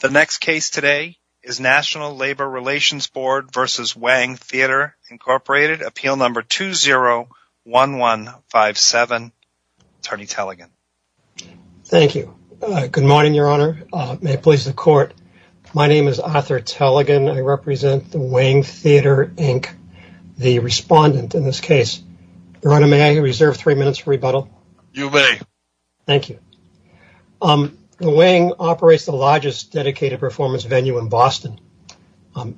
The next case today is National Labor Relations Board v. Wang Theatre, Inc. Appeal No. 201157. Attorney Tellegen. Thank you. Good morning, Your Honor. May it please the Court. My name is Arthur Tellegen. I represent the Wang Theatre, Inc., the respondent in this case. Your Honor, may I reserve three minutes for rebuttal? You may. Thank you. The Wang operates the largest dedicated performance venue in Boston.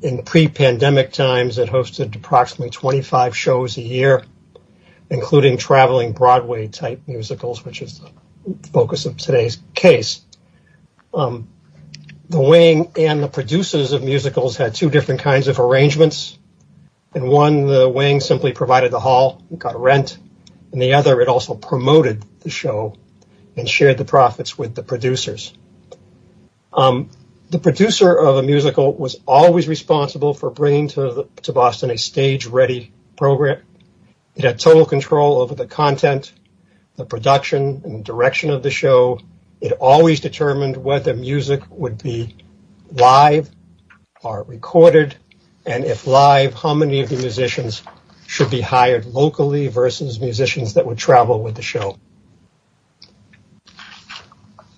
In pre-pandemic times, it hosted approximately 25 shows a year, including traveling Broadway-type musicals, which is the focus of today's case. The Wang and the producers of musicals had two different kinds of arrangements. One, the Wang simply provided the hall and got rent. The other, it also promoted the show and shared the profits with the producers. The producer of a musical was always responsible for bringing to Boston a stage-ready program. It had total control over the content, the production, and direction of the show. It always determined whether music would be live or recorded, and if live, how many of the musicians should be hired locally versus musicians that would travel with the show.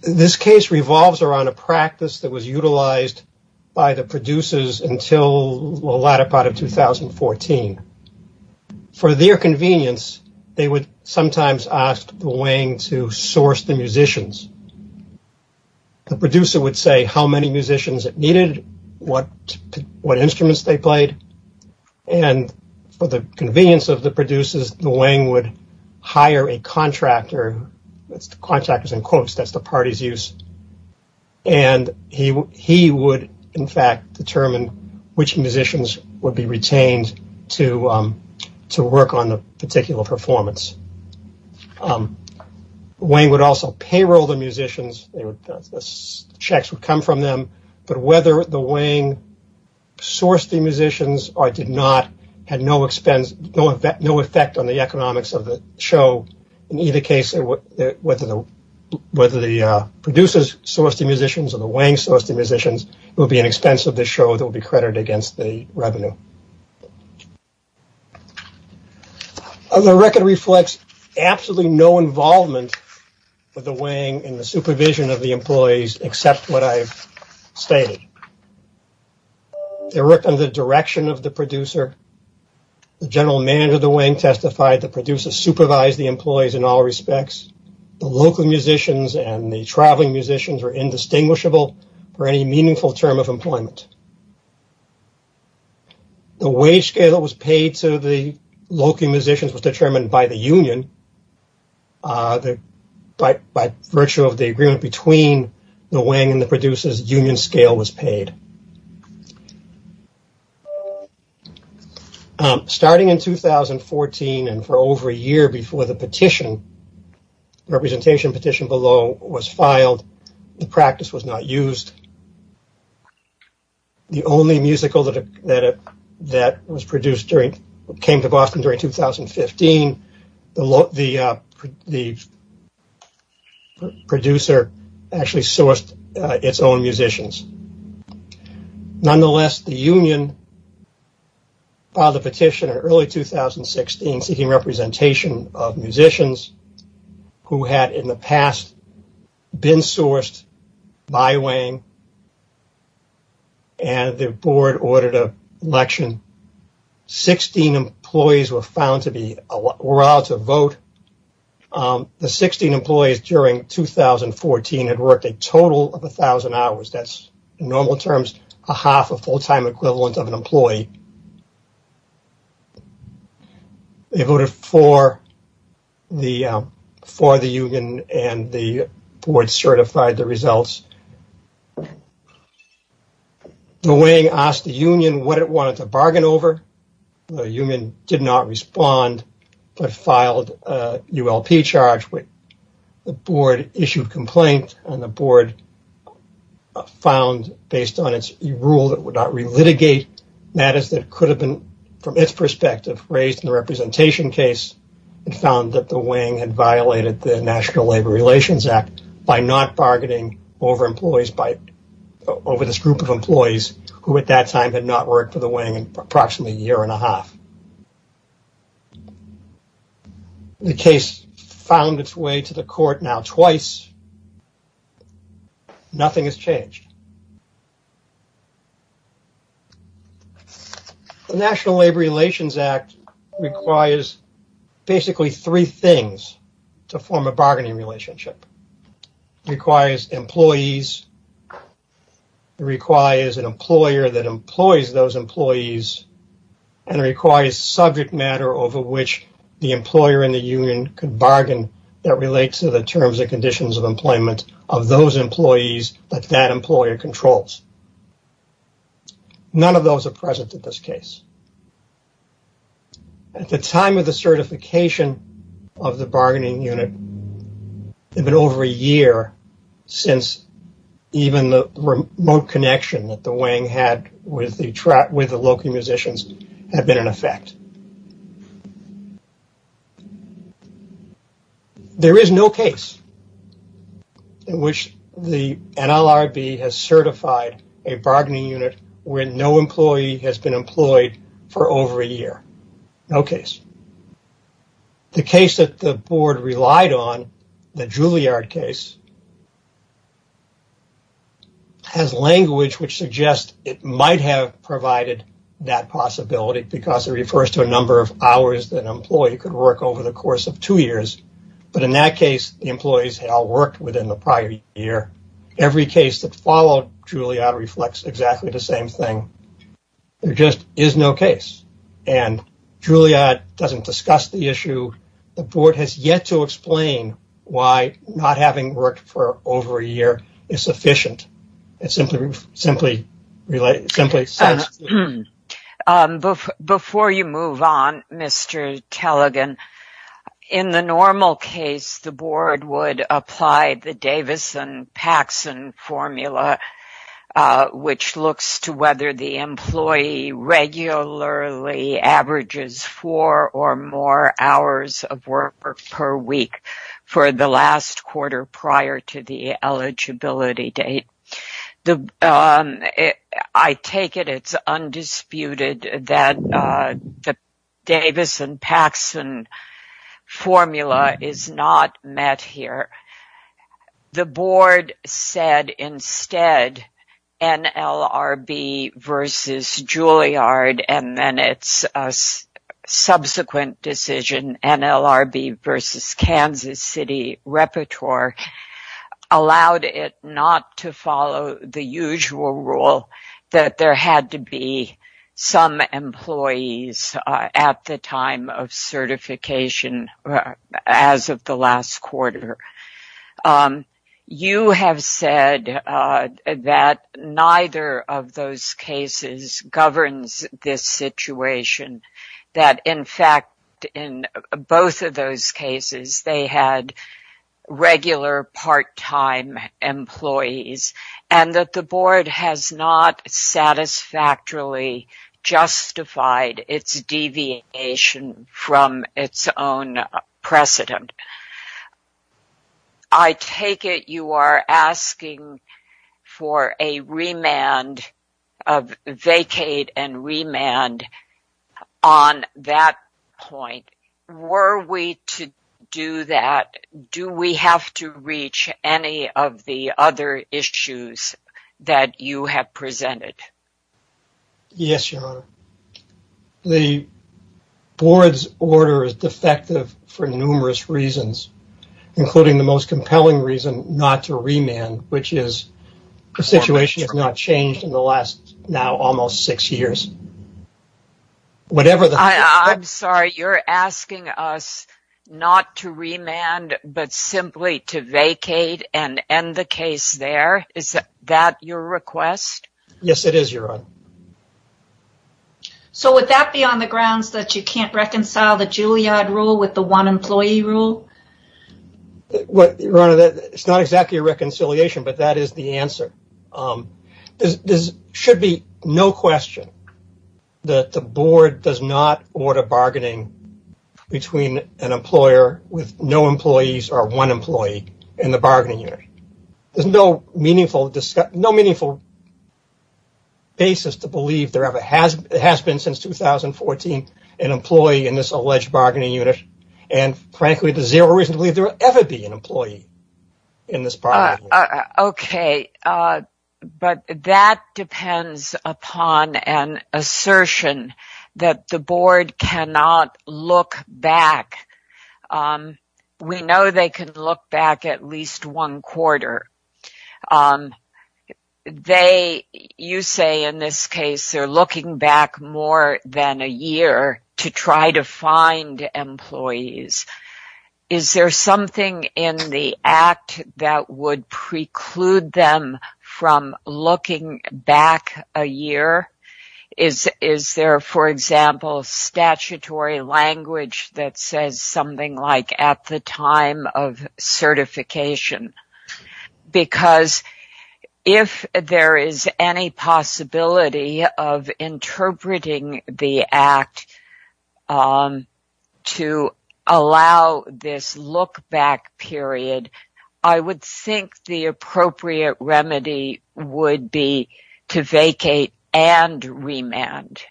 This case revolves around a practice that was utilized by the producers until the latter part of 2014. For their convenience, they would sometimes ask the Wang to source the musicians. The producer would say how many musicians it needed, what instruments they played, and for the convenience of the producers, the Wang would hire a contractor. That's the contractors in quotes. That's the party's use. And he would, in fact, determine which musicians would be retained to work on the particular performance. The Wang would also payroll the musicians. The checks would come from them, but whether the Wang sourced the musicians or did not had no expense, no effect on the economics of the show. In either case, whether the producers sourced the musicians or the Wang sourced the musicians, it would be an expense of the show that would be credited against the revenue. The record reflects absolutely no involvement with the Wang in the supervision of the employees, except what I've stated. They worked on the direction of the producer. The general manager of the Wang testified the producers supervised the employees in all respects. The local musicians and the traveling musicians were indistinguishable for any meaningful term of employment. The wage scale that was paid to the local musicians was determined by the union. But by virtue of the agreement between the Wang and the producers, union scale was paid. Starting in 2014 and for over a year before the petition, representation petition below was filed, the practice was not used. The only musical that came to Boston during 2015, the producer actually sourced its own musicians. Nonetheless, the union filed a petition in early 2016, seeking representation of musicians who had in the past been sourced by Wang. The board ordered an election. 16 employees were found to be allowed to vote. The 16 employees during 2014 had worked a total of 1,000 hours. That's normal terms, a half, a full-time equivalent of an employee. They voted for the union and the board certified the results. The Wang asked the union what it wanted to bargain over. The union did not respond, but filed a ULP charge. The board issued a complaint. The board found, based on its rule that would not relitigate matters that could have been, from its perspective, raised in the representation case, it found that the Wang had violated the National Labor Relations Act by not bargaining over this group of employees who, at that time, had not worked for the Wang in approximately a year and a half. The case found its way to the court now twice. Nothing has changed. The National Labor Relations Act requires basically three things to form a bargaining relationship. It requires employees. It requires an employer that employs those employees, and it requires subject matter over which the employer and the union could bargain that relates to the terms and conditions of employment of those employees that that employer controls. None of those are present in this case. At the time of the certification of the bargaining unit, it had been over a year since even the remote connection that the Wang had with the local musicians had been in effect. There is no case in which the NLRB has certified a bargaining unit where no employee has been employed for over a year. No case. The case that the board relied on, the Juilliard case, has language which suggests it might have provided that possibility because it refers to a number of hours that an employee could work over the course of two years, but in that case, the employees had all worked within the prior year. Every case that followed Juilliard reflects exactly the same thing. There just is no case, and Juilliard doesn't discuss the issue. The board has yet to explain why not having worked for over a year is sufficient. Before you move on, Mr. Tallegan, in the normal case, the board would apply the Davison-Paxson formula, which looks to whether the employee regularly averages four or more hours of work per week for the last quarter prior to the eligibility date. I take it it's undisputed that the Davison-Paxson formula is not met here. The board said instead NLRB versus Juilliard, and then its subsequent decision, NLRB versus Kansas City Repertoire, allowed it not to follow the usual rule that there had to be some employees at the time of certification as of the last quarter. You have said that neither of those cases governs this situation, that in fact in both of those cases they had regular part-time employees, and that the board has not satisfactorily justified its deviation from its own precedent. I take it you are asking for a remand of vacate and remand on that point. Were we to do that, do we have to reach any of the other issues that you have presented? Yes, Your Honor. The board's order is defective for numerous reasons, including the most compelling reason, not to remand, which is the situation has not changed in the last now almost six years. I'm sorry, you're asking us not to remand but simply to vacate and end the case there? Is that your request? Yes, it is, Your Honor. Would that be on the grounds that you can't reconcile the Juilliard rule with the one employee rule? It's not exactly a reconciliation, but that is the answer. There should be no question that the board does not order bargaining between an employer with no employees or one to believe there has been since 2014 an employee in this alleged bargaining unit, and frankly, there's zero reason to believe there will ever be an employee in this bargaining unit. Okay, but that depends upon an assertion that the board cannot look back. We know they can look back more than a year to try to find employees. Is there something in the act that would preclude them from looking back a year? Is there, for example, statutory language that says at the time of certification? Because if there is any possibility of interpreting the act to allow this look-back period, I would think the appropriate remedy would be to vacate and remand.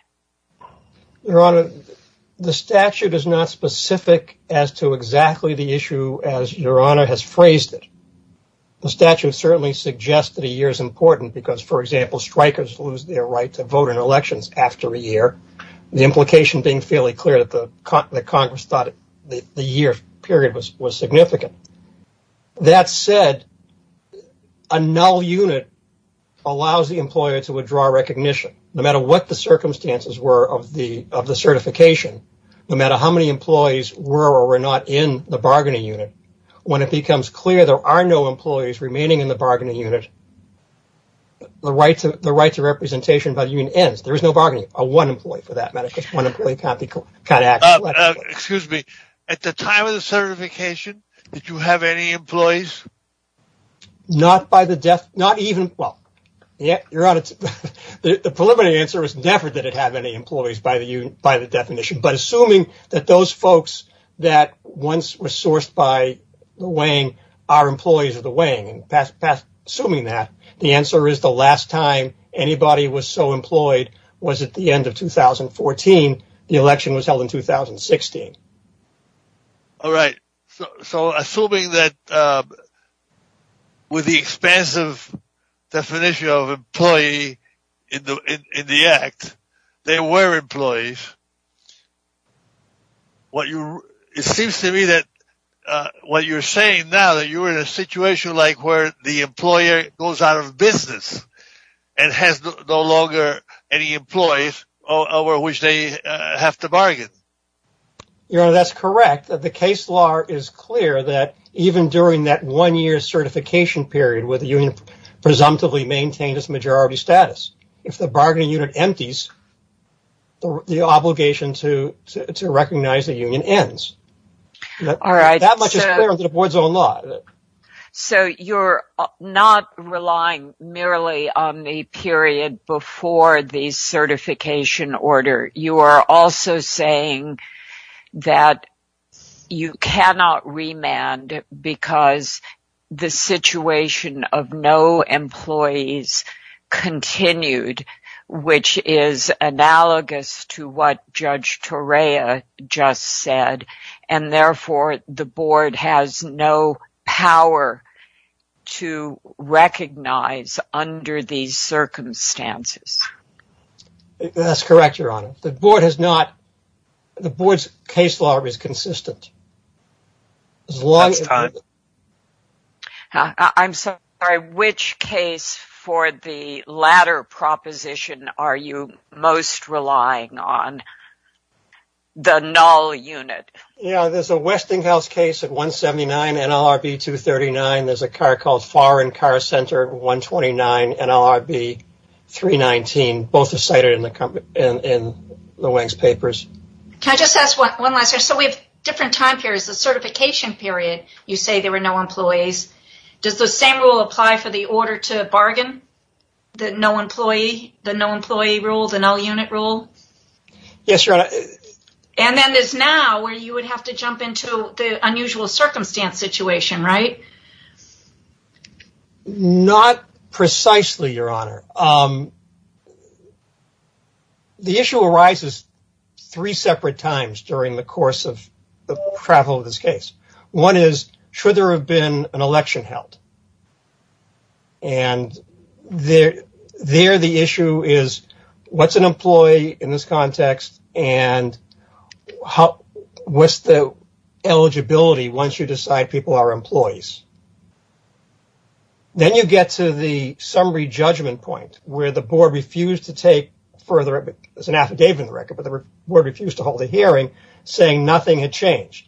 Your Honor, the statute is not specific as to exactly the issue as Your Honor has phrased it. The statute certainly suggests that a year is important because, for example, strikers lose their right to vote in elections after a year, the implication being fairly clear that the Congress thought the year period was significant. That said, a null unit allows the of the certification, no matter how many employees were or were not in the bargaining unit. When it becomes clear there are no employees remaining in the bargaining unit, the right to representation by the union ends. There is no bargaining, a one employee for that matter. Excuse me, at the time of the certification, did you have any employees? Not by the death, not even, well, Your Honor, the preliminary answer is never did it have any employees by the definition, but assuming that those folks that once were sourced by the Wang are employees of the Wang, assuming that, the answer is the last time anybody was so employed was at the end of 2014. The election was held in 2016. All right, so assuming that with the expansive definition of employee in the act, there were employees. It seems to me that what you're saying now that you were in a situation like where the employer goes out of business and has no longer any employees over which they have to bargain. Your Honor, that's correct. The case law is clear that even during that one year certification period where the union presumptively maintained its majority status, if the bargaining unit empties, the obligation to recognize the union ends. All right. So you're not relying merely on the period before the certification order. You are also saying that you cannot remand because the situation of no employees continued, which is analogous to what Judge Torea just said, and therefore the board has no power to recognize under these circumstances. That's correct, Your Honor. The board has not, the board's case law is consistent. I'm sorry, which case for the latter proposition are you most relying on? The null unit. Yeah, there's a Westinghouse case at 179 NLRB 239. There's a car called Far and Car Center 129 NLRB 319. Both are cited in the Weng's papers. Can I just ask one last question? So we have different time periods. The certification period, you say there were no employees. Does the same rule apply for the order to bargain? The no employee, the no employee rule, the null unit rule? Yes, Your Honor. And then there's now where you would have to jump into the unusual circumstance situation, right? Not precisely, Your Honor. The issue arises three separate times during the course of the travel of this case. One is, should there have been an election held? And there the issue is, what's an employee in this context? And what's the eligibility once you decide people are employees? Then you get to the summary judgment point where the board refused to take further, there's an affidavit in the record, but the board refused to hold a hearing saying nothing had changed.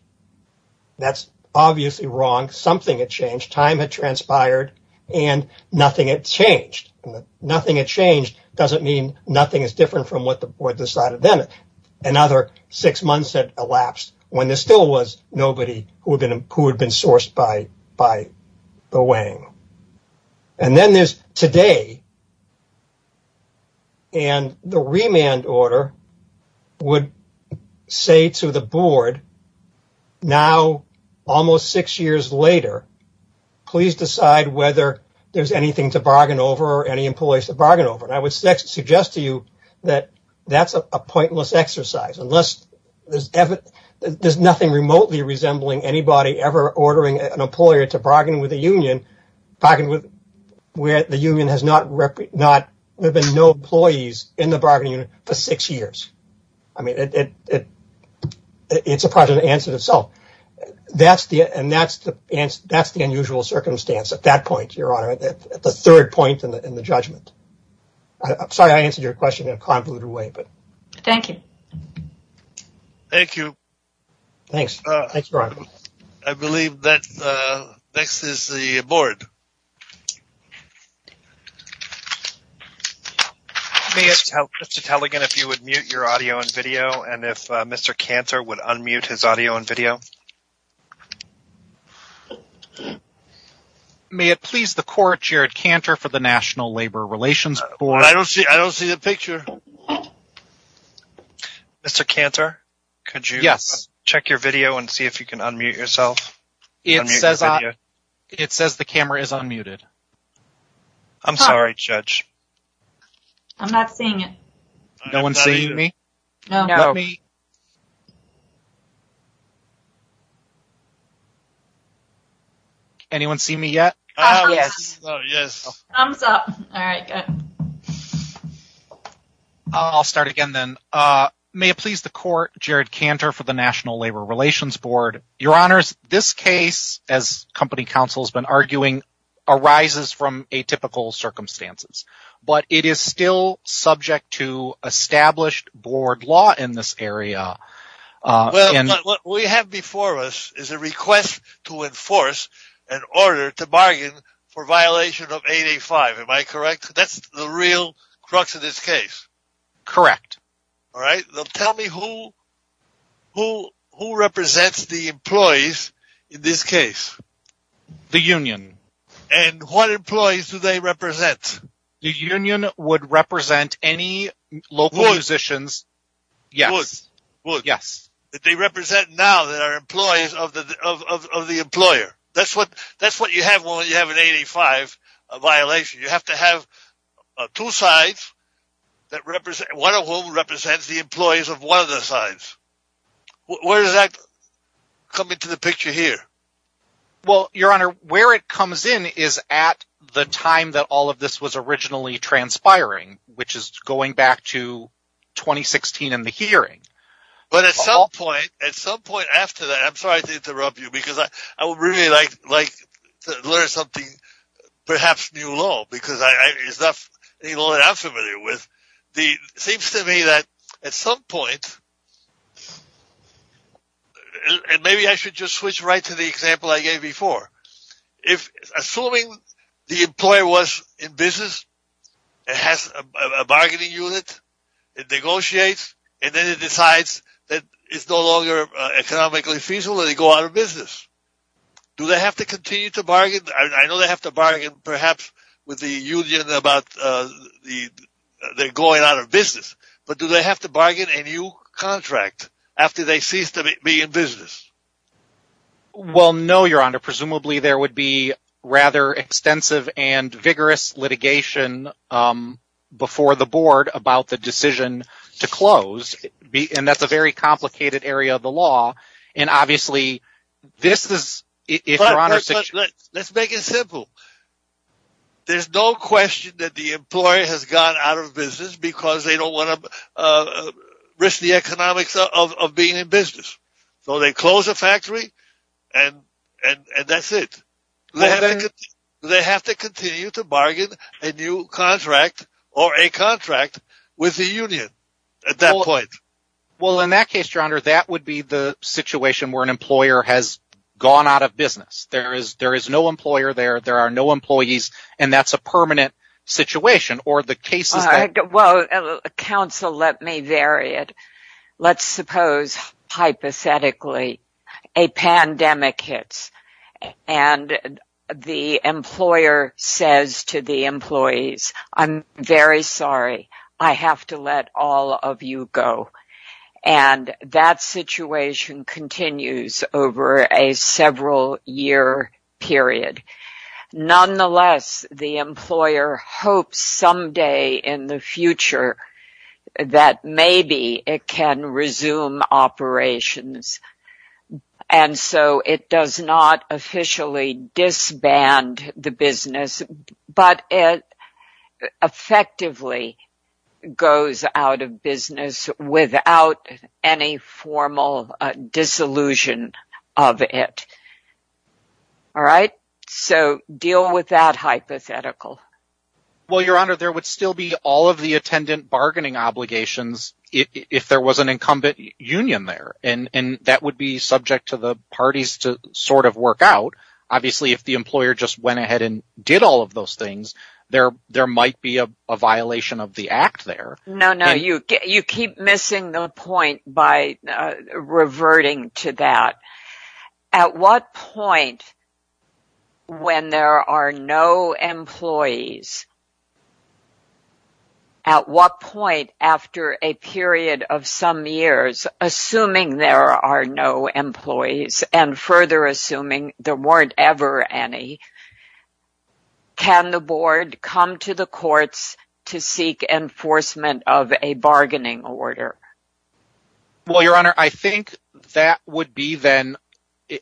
That's obviously wrong. Something had changed. Time had transpired and nothing had changed. Nothing had changed doesn't mean nothing is different from what the board decided then. Another six months had elapsed when there still was nobody who had been sourced by the Weng. And then there's today and the remand order would say to the board, now almost six years later, please decide whether there's anything to bargain over or any employees to bargain over. And I would suggest to you that that's a pointless exercise unless there's nothing remotely resembling anybody ever ordering an employer to bargain with the union where the union has not, there have been no employees in the bargaining unit for six years. It's a project to answer itself. That's the unusual circumstance at that point, your honor, at the third point in the judgment. I'm sorry I answered your question in a convoluted way. Thank you. Thank you. Thanks. Thanks, Brian. I believe that next is the board. May I ask Mr. Taligan if you would mute your audio and video and if Mr. Cantor would unmute his audio and video. May it please the court, Jared Cantor for the National Labor Relations Board. I don't see, I don't see the picture. Mr. Cantor, could you? Check your video and see if you can unmute yourself. It says the camera is unmuted. I'm sorry, judge. I'm not seeing it. No one's seeing me? Anyone see me yet? Oh, yes. Thumbs up. All right, good. I'll start again then. May it please the court, Jared Cantor for the National Labor Relations Board. Your honors, this case, as company counsel has been arguing, arises from atypical circumstances, but it is still subject to established board law in this area. Well, what we have before us is a request to enforce an order to bargain for violation of 885. Am I correct? That's the real crux of this case. Correct. All right. Tell me who represents the employees in this case. The union. And what employees do they represent? The union would represent any local musicians. Yes, yes. That they represent now that are employees of the employer. That's what you have when you have an 885 violation. You have to have two sides, one of whom represents the employees of one of the sides. Where does that come into the picture here? Well, your honor, where it comes in is at the time that all of this was originally transpiring, which is going back to 2016 and the hearing. But at some point after that, I'm sorry to interrupt you because I would really like to learn something, perhaps new law, because it's not any law that I'm familiar with. Seems to me that at some point, and maybe I should just switch right to the example I gave before. Assuming the employer was in business, it has a bargaining unit, it negotiates, and then it decides that it's no longer economically feasible and they go out of business. Do they have to continue to bargain? I know they have to bargain perhaps with the union about they're going out of business, but do they have to bargain a new contract after they cease to be in business? Well, no, your honor. Presumably there would be rather extensive and vigorous litigation before the board about the decision to close. And that's a very complicated area of the law. And obviously, this is, if your honor... But let's make it simple. There's no question that the employer has gone out of business because they don't want to risk the economics of being in business. So they close the factory and that's it. They have to continue to bargain a new contract or a contract with the union at that point. Well, in that case, your honor, that would be the situation where an employer has gone out of business. There is no employer there, there are no employees, and that's a permanent situation or the cases... Well, counsel, let me vary it. Let's suppose hypothetically a pandemic hits and the employer says to the employees, I'm very sorry, I have to let all of you go. And that situation continues over a several year period. Nonetheless, the employer hopes someday in the future that maybe it can resume operations. And so it does not officially disband the business, but it effectively goes out of business without any formal disillusion of it. All right. So deal with that hypothetical. Well, your honor, there would still be all of the attendant bargaining obligations if there was an incumbent union there, and that would be subject to the parties to sort of work out. Obviously, if the employer just went ahead and did all of those things, there might be a violation of the act there. No, no, you keep missing the point by reverting to that. At what point, when there are no employees, at what point after a period of some years, assuming there are no employees and further assuming there weren't ever any, can the board come to the courts to seek enforcement of a bargaining order? Well, your honor, I think that would be then,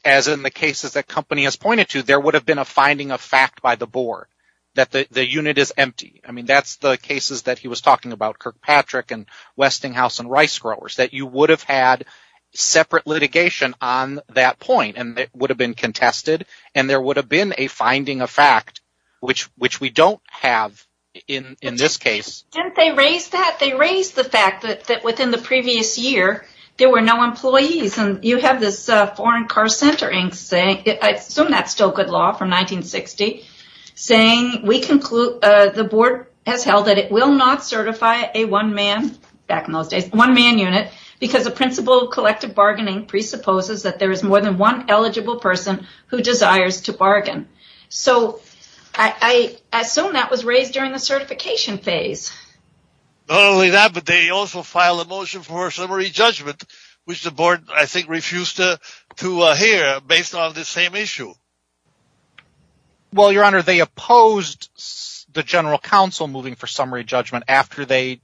as in the cases that company has pointed to, there would have been a finding of fact by the board that the unit is empty. I mean, that's the cases that he was talking about, Kirkpatrick and Westinghouse and rice growers, that you would have had separate litigation on that point and it would have been contested and there would have been a finding of fact, which we don't have in this case. They raised the fact that within the previous year, there were no employees and you have this foreign car center, I assume that's still good law from 1960, saying the board has held that it will not certify a one-man back in those days, one-man unit because the principle of collective presupposes that there is more than one eligible person who desires to bargain. So, I assume that was raised during the certification phase. Not only that, but they also filed a motion for summary judgment, which the board, I think, refused to hear based on this same issue. Well, your honor, they opposed the general counsel moving for summary judgment after the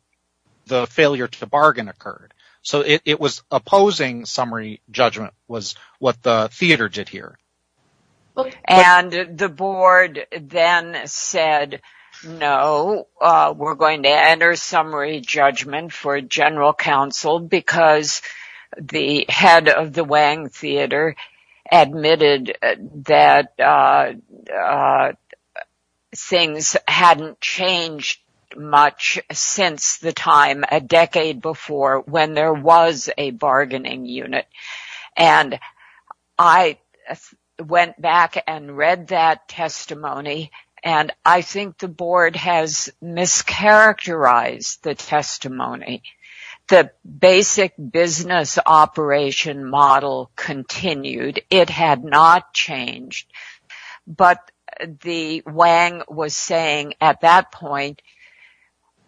failure to bargain occurred. So, it was opposing summary judgment was what the theater did here. And the board then said, no, we're going to enter summary judgment for general counsel because the head of the Wang Theater admitted that things hadn't changed much since the time a decade before when there was a bargaining unit. And I went back and read that testimony, and I think the board has mischaracterized the testimony. The basic business operation model continued. It had not changed. But the Wang was saying at that point,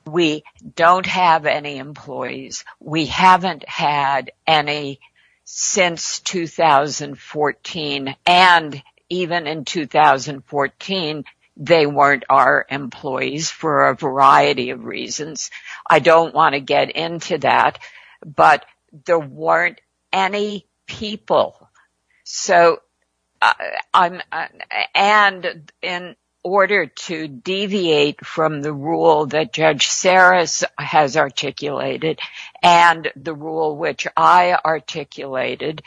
we don't have any employees. We haven't had any since 2014. And even in 2014, they weren't our employees for a variety of reasons. I don't want to get into that, but there weren't any people. And in order to deviate from the rule that Judge Saris has articulated and the rule which I articulated,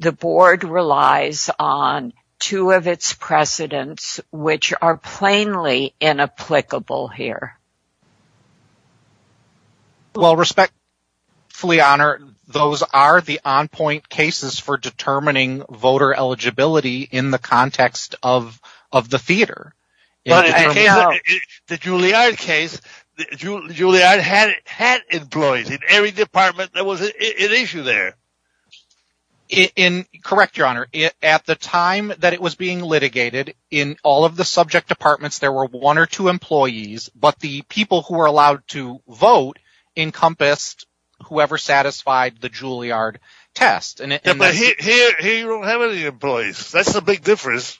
the board relies on two of its precedents, which are plainly inapplicable here. Well, respectfully, your honor, those are the on-point cases for determining voter eligibility in the context of the theater. The Juilliard case, Juilliard had employees in every department. There was an issue there. Correct, your honor. At the time that it was being litigated, in all of the subject departments, there were one or two employees, but the people who were allowed to vote encompassed whoever satisfied the Juilliard test. But here you don't have any employees. That's the big difference.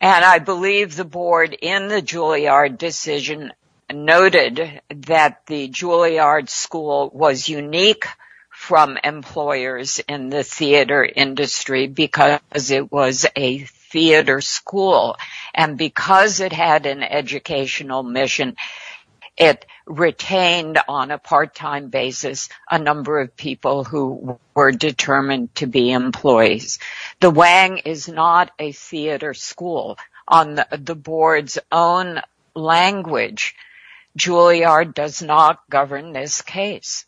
And I believe the board in the Juilliard decision noted that the Juilliard school was unique from employers in the theater industry because it was a theater school. And because it had an educational mission, it retained on a part-time basis a number of people who were determined to be employees. The Wang is not a theater school. On the board's own language, Juilliard does not govern this case.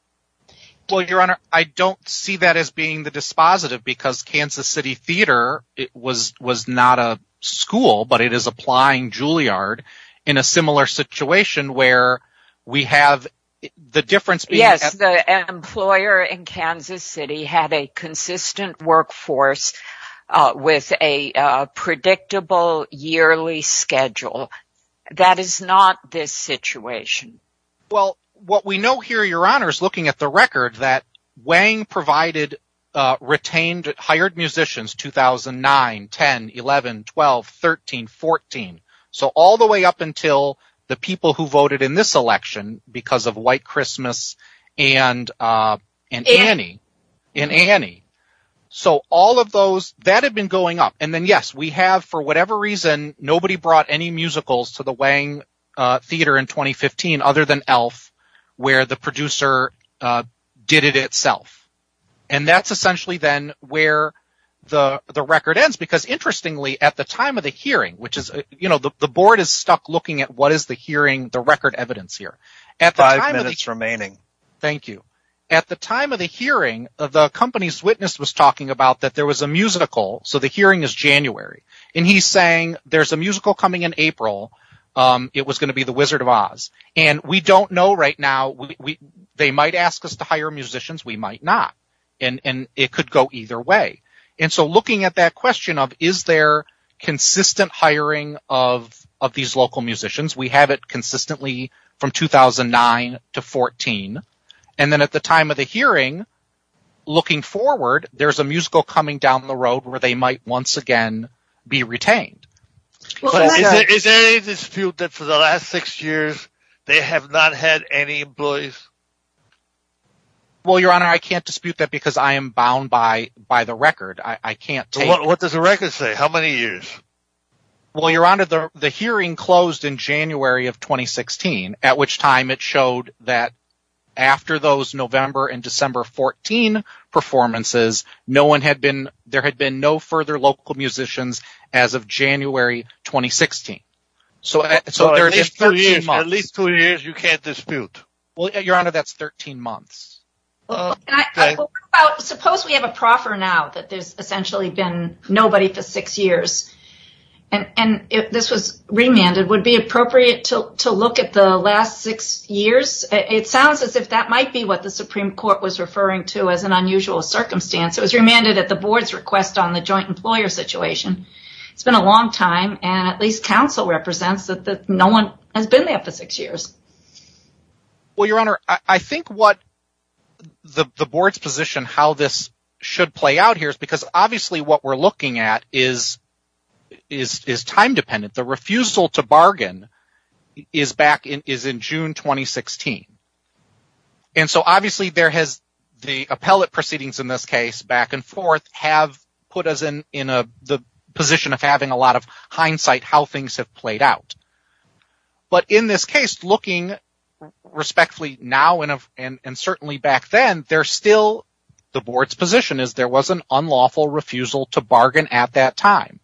Well, your honor, I don't see that as being the dispositive because Kansas City Theater was not a school, but it is applying Juilliard in a similar situation where we have the difference. Yes, the employer in Kansas City had a consistent workforce with a predictable yearly schedule. That is not this situation. Well, what we know here, your honor, is looking at the record that Wang retained hired musicians 2009, 10, 11, 12, 13, 14. So all the way up until the people who voted in this election because of White Christmas and Annie. So all of those, that had been going up. And then, yes, we have, for whatever reason, nobody brought any musicals to the Wang Theater in 2015 other than Elf where the producer did it itself. And that's essentially then where the record ends because, interestingly, at the time of the hearing, which is, you know, the board is stuck looking at what is the hearing, the record evidence here. At the time of the hearing, the company's witness was talking about that there was a musical. So the hearing is January. And he's saying there's a musical coming in April. It was going to be the Wizard of Oz. And we don't know right now. They might ask us to hire musicians. We might not. And it could go either way. And so looking at that question of is there consistent hiring of these local musicians, we have it consistently from 2009 to 2014. And then at the time of the hearing, looking forward, there's a musical coming down the road where they might once again be retained. Is there any dispute that for the last six years they have not had any employees? Well, Your Honor, I can't dispute that because I am bound by the record. I can't take. What does the record say? How many years? Well, Your Honor, the hearing closed in January of 2016, at which time it showed that after those November and December 14 performances, no one had been there had been no further local musicians as of January 2016. So at least two years, you can't dispute. Well, Your Honor, that's 13 months. Suppose we have a proffer now that there's essentially been nobody for six years. And if this was remanded, would it be appropriate to look at the last six years? It sounds as if that might be what the Supreme Court was referring to as an unusual circumstance. It was remanded at the board's request on the joint employer situation. It's been a long time, and at least counsel represents that no one has been there for six years. Well, Your Honor, I think what the board's position how this should play out here is because obviously what we're looking at is time dependent. The refusal to bargain is back in June 2016. And so obviously there has the appellate proceedings in this case back and forth have put us in the position of having a lot of hindsight how things have played out. But in this case, looking respectfully now and certainly back then, there's still the board's position is there was an unlawful refusal to bargain at that time.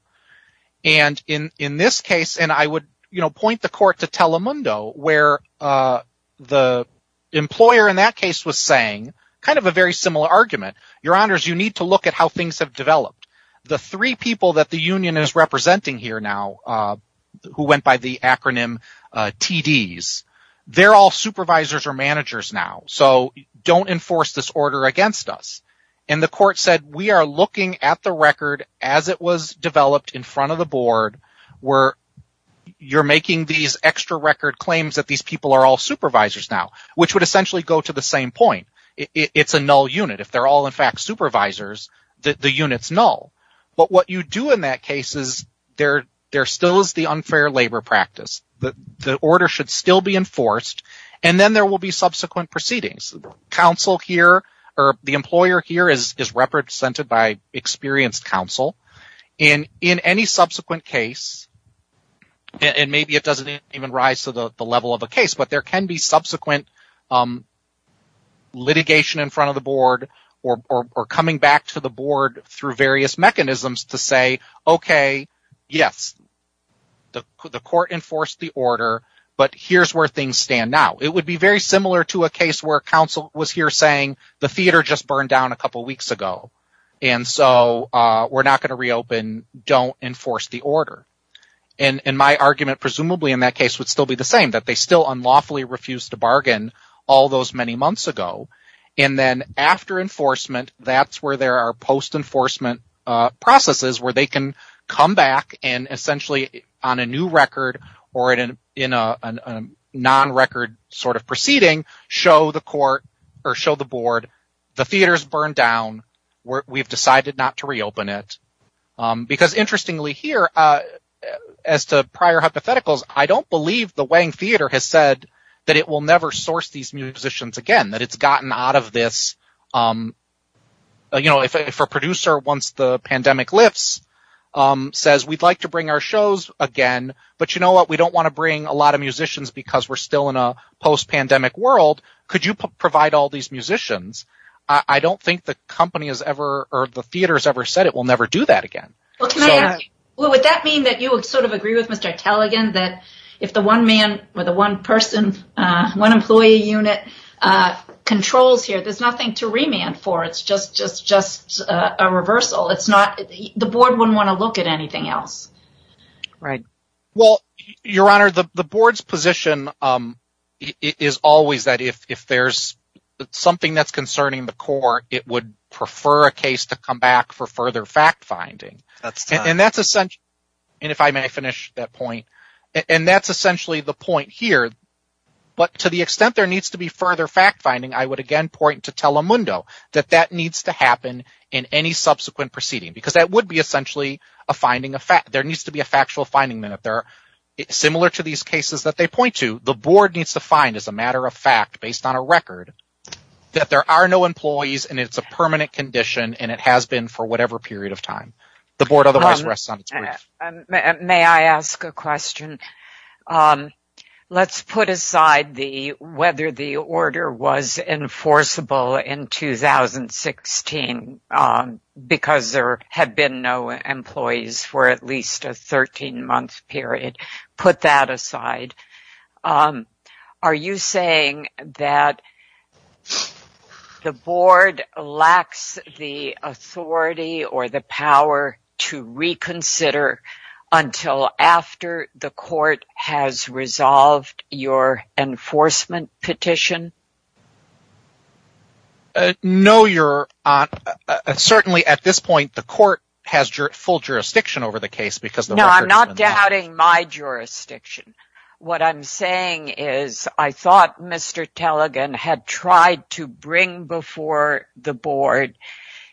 And in this case, and I would point the court to Telemundo where the employer in that case was saying kind of a very similar argument. Your Honors, you need to look at how things have developed. The three people that the union is representing here now who went by the acronym TDs, they're all supervisors or managers now. So don't enforce this order against us. And the court said, we are looking at the record as it was developed in front of the board where you're making these extra record claims that these people are all supervisors now, which would essentially go to the same point. It's a null unit. If they're all, in fact, supervisors, the unit's null. But what you do in that case is there still is the unfair labor practice. The order should still be enforced, and then there will be subsequent proceedings. The employer here is represented by experienced counsel. In any subsequent case, and maybe it doesn't even rise to the level of a case, but there can be subsequent litigation in front of the board or coming back to the board through various mechanisms to say, okay, yes, the court enforced the order, but here's where things stand now. It would be very similar to a case where counsel was here saying the theater just burned down a couple weeks ago, and so we're not going to reopen. Don't enforce the order. And my argument, presumably, in that case would still be the same, that they still unlawfully refused to bargain all those many months ago. And then after enforcement, that's where there are post-enforcement processes where they can come back and essentially on a new record or in a non-record sort of proceeding, show the court or show the board the theater's burned down. We've decided not to reopen it. Because interestingly here, as to prior hypotheticals, I don't believe the Wang Theater has said that it will never source these musicians again, that it's gotten out of this. You know, if a producer, once the pandemic lifts, says we'd like to bring our shows again, but you know what? We don't want to bring a lot of musicians because we're still in a post-pandemic world. Could you provide all these musicians? I don't think the company has ever or the theater has ever said it will never do that again. Well, would that mean that you would sort of agree with Mr. Taligan that if the one man or the one person, one employee unit controls here, there's nothing to remand for. It's just a reversal. The board wouldn't want to look at anything else. Well, Your Honor, the board's position is always that if there's something that's concerning the court, it would prefer a case to come back for further fact finding. And that's essentially, and if I may finish that point, and that's essentially the fact finding, I would again point to Telemundo, that that needs to happen in any subsequent proceeding, because that would be essentially a finding of fact. There needs to be a factual finding. And if they're similar to these cases that they point to, the board needs to find as a matter of fact, based on a record, that there are no employees and it's a permanent condition, and it has been for whatever period of time. The board otherwise rests on its words. May I ask a question? Let's put aside whether the order was enforceable in 2016, because there had been no employees for at least a 13-month period. Put that aside. Are you saying that the board lacks the authority or the power to reconsider until after the court has resolved your enforcement petition? No, Your Honor. Certainly at this point, the court has full jurisdiction over the case because No, I'm not doubting my jurisdiction. What I'm saying is I thought Mr. Tellegen had tried to bring before the board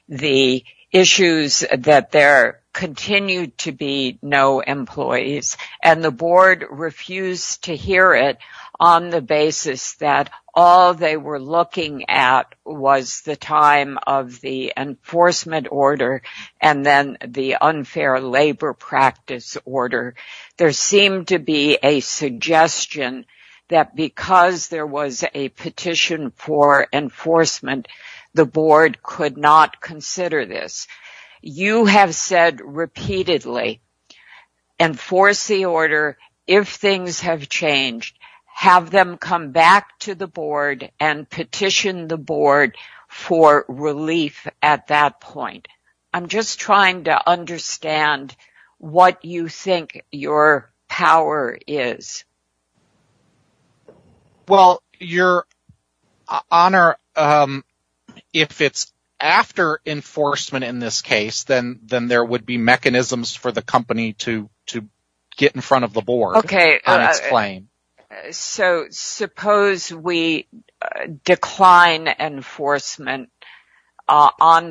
the issues that there continued to be no employees, and the board refused to hear it on the basis that all they were looking at was the time of the enforcement order, and then the unfair labor practice order. There seemed to be a suggestion that because there was a petition for enforcement, the board could not consider this. You have said repeatedly, enforce the order. If things have changed, have them come back to the board and petition the board for relief at that point. I'm just trying to understand what you think your power is. Well, Your Honor, if it's after enforcement in this case, then there would be mechanisms for enforcement on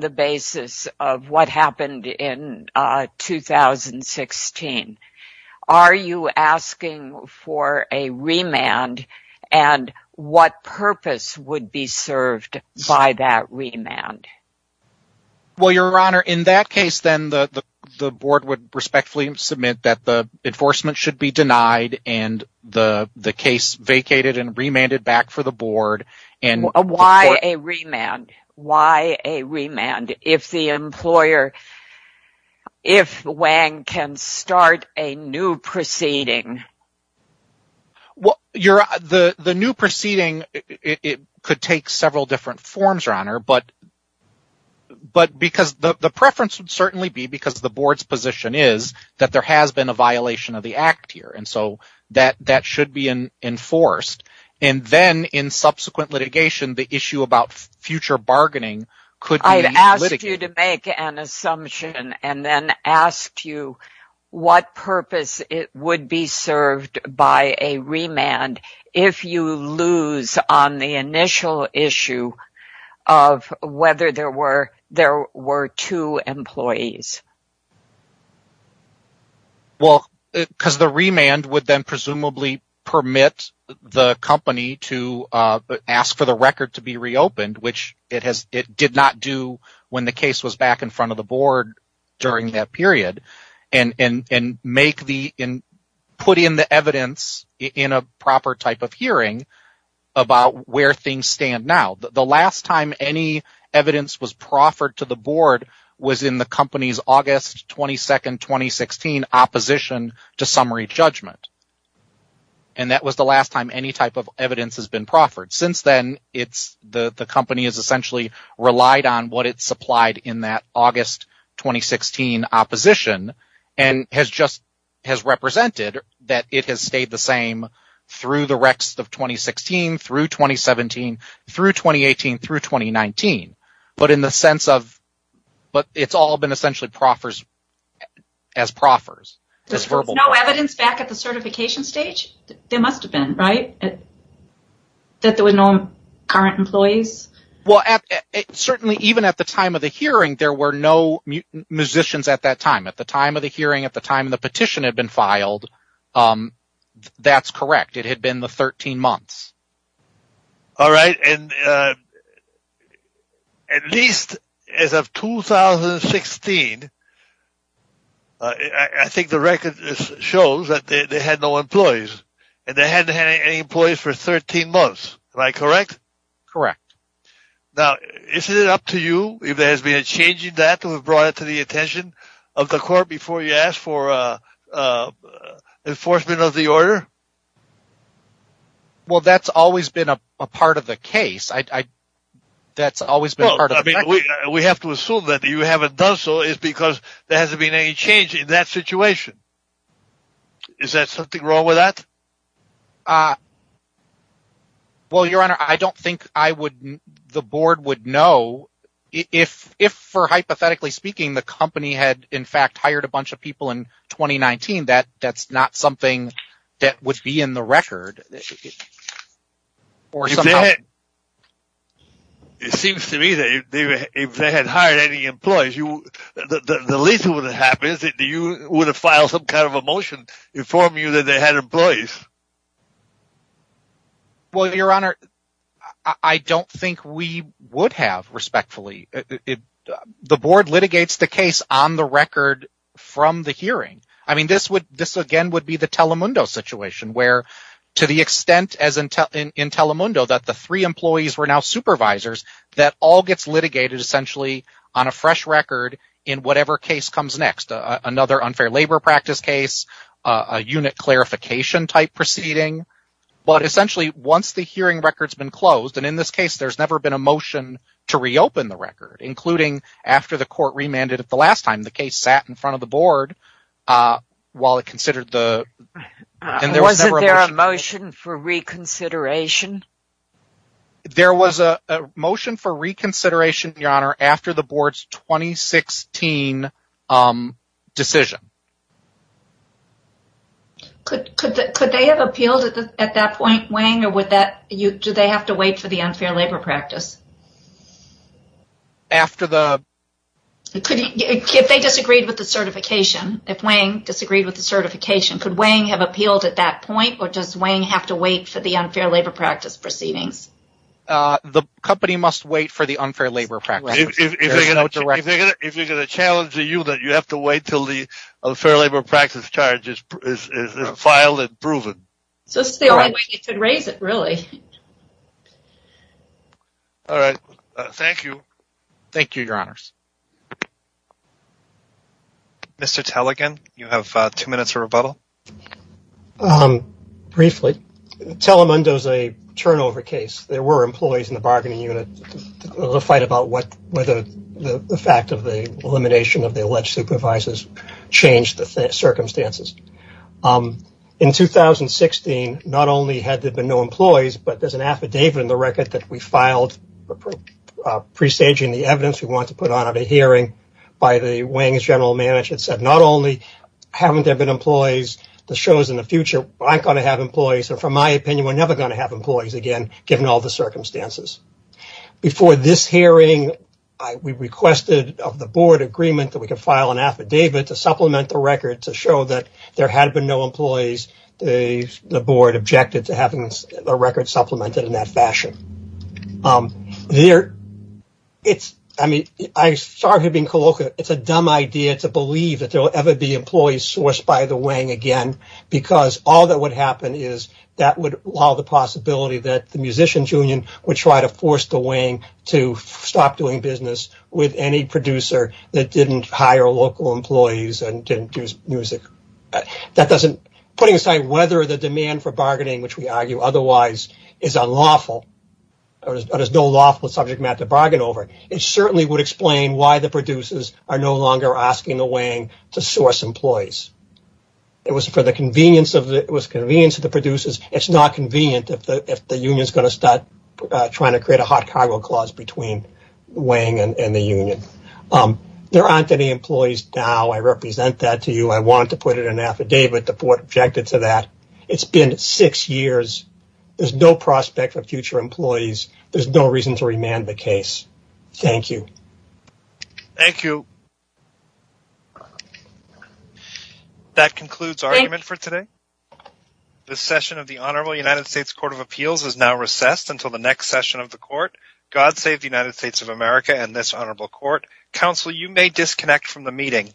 the basis of what happened in 2016. Are you asking for a remand and what purpose would be served by that remand? Well, Your Honor, in that case, then the board would respectfully submit that the enforcement should be denied and the case vacated and remanded back for the board. Why a remand? Why a remand if Wang can start a new proceeding? The new proceeding could take several different forms, Your Honor, but because the preference would certainly be because the board's position is that there has been a litigation, the issue about future bargaining could be litigated. I'd ask you to make an assumption and then ask you what purpose it would be served by a remand if you lose on the initial issue of whether there were two employees. Well, because the remand would then presumably permit the company to ask for the record to be reopened, which it did not do when the case was back in front of the board during that period, and put in the evidence in a proper type of hearing about where things stand now. The last time any August 22, 2016, opposition to summary judgment, and that was the last time any type of evidence has been proffered. Since then, the company has essentially relied on what it supplied in that August 2016 opposition and has just has represented that it has stayed the same through the rest of 2016, through 2017, through 2018, through 2019. But it's all been proffers as proffers. There's no evidence back at the certification stage? There must have been, right? That there were no current employees? Well, certainly even at the time of the hearing, there were no musicians at that time. At the time of the hearing, at the time the petition had been received, I think the record shows that they had no employees, and they hadn't had any employees for 13 months. Am I correct? Correct. Now, isn't it up to you if there has been a change in that to have brought it to the attention of the court before you asked for enforcement of the order? Well, that's always been a part of the case. That's always been part of the record. We have to assume that you haven't done so is because there hasn't been any change in that situation. Is there something wrong with that? Well, Your Honor, I don't think the board would know. If, hypothetically speaking, the company had in fact hired a bunch of people in 2019, that's not something that would be in the record. It seems to me that if they had hired any employees, the least that would have happened is that you would have filed some kind of a motion to inform you that they had employees. Well, Your Honor, I don't think we would have, respectfully. The board litigates the case on the record from the hearing. I mean, this again would be the Telemundo situation where, to the extent in Telemundo that the three employees were now supervisors, that all gets litigated essentially on a fresh record in whatever case comes next, another unfair labor practice case, a unit clarification type proceeding. But essentially, once the hearing record's been closed, and in this case, there's never been a motion to reopen the record, including after the case sat in front of the board. Was there a motion for reconsideration? There was a motion for reconsideration, Your Honor, after the board's 2016 decision. Could they have appealed at that point, Wang, or do they have to wait for the unfair labor practice? If they disagreed with the certification, if Wang disagreed with the certification, could Wang have appealed at that point, or does Wang have to wait for the unfair labor practice proceedings? The company must wait for the unfair labor practice. If they're going to challenge the unit, you have to wait until the unfair labor practice charge is filed and proven. So this is the only way you could raise it, really. All right. Thank you. Thank you, Your Honors. Mr. Tellegen, you have two minutes for rebuttal. Briefly, Telemundo is a turnover case. There were employees in the bargaining unit to fight about whether the fact of the elimination of the alleged supervisors changed the circumstances. In 2016, not only had there been no employees, but there's an affidavit in the record that we filed presaging the evidence we wanted to put on at a hearing by the Wang's general manager that said, not only haven't there been employees, this shows in the future I'm going to have employees, and from my opinion, we're never going to have employees again, given all the circumstances. Before this hearing, we requested of the board agreement that we could file an affidavit to supplement the record to show that there had been no employees. The board objected to having a record supplemented in that fashion. I mean, I started being colloquial. It's a dumb idea to believe that there will ever be employees sourced by the Wang again, because all that would happen is that would allow the possibility that the musicians union would try to force the Wang to stop doing business with any producer that didn't hire local employees and didn't do music. Putting aside whether the demand for bargaining, which we argue otherwise, is unlawful, or there's no lawful subject matter to bargain over, it certainly would explain why the producers are no longer asking the Wang to source employees. It was for the convenience of the producers. It's not convenient if the union is going to start trying to create a hot cargo clause between Wang and the union. There aren't any employees now. I represent that to you. I want to put it in an affidavit. The board objected to that. It's been six years. There's no prospect for future employees. There's no reason to remand the case. Thank you. Thank you. Thank you. That concludes our argument for today. The session of the Honorable United States Court of Appeals is now recessed until the next session of the court. God save the United States of America and this honorable court. Counsel, you may disconnect from the meeting.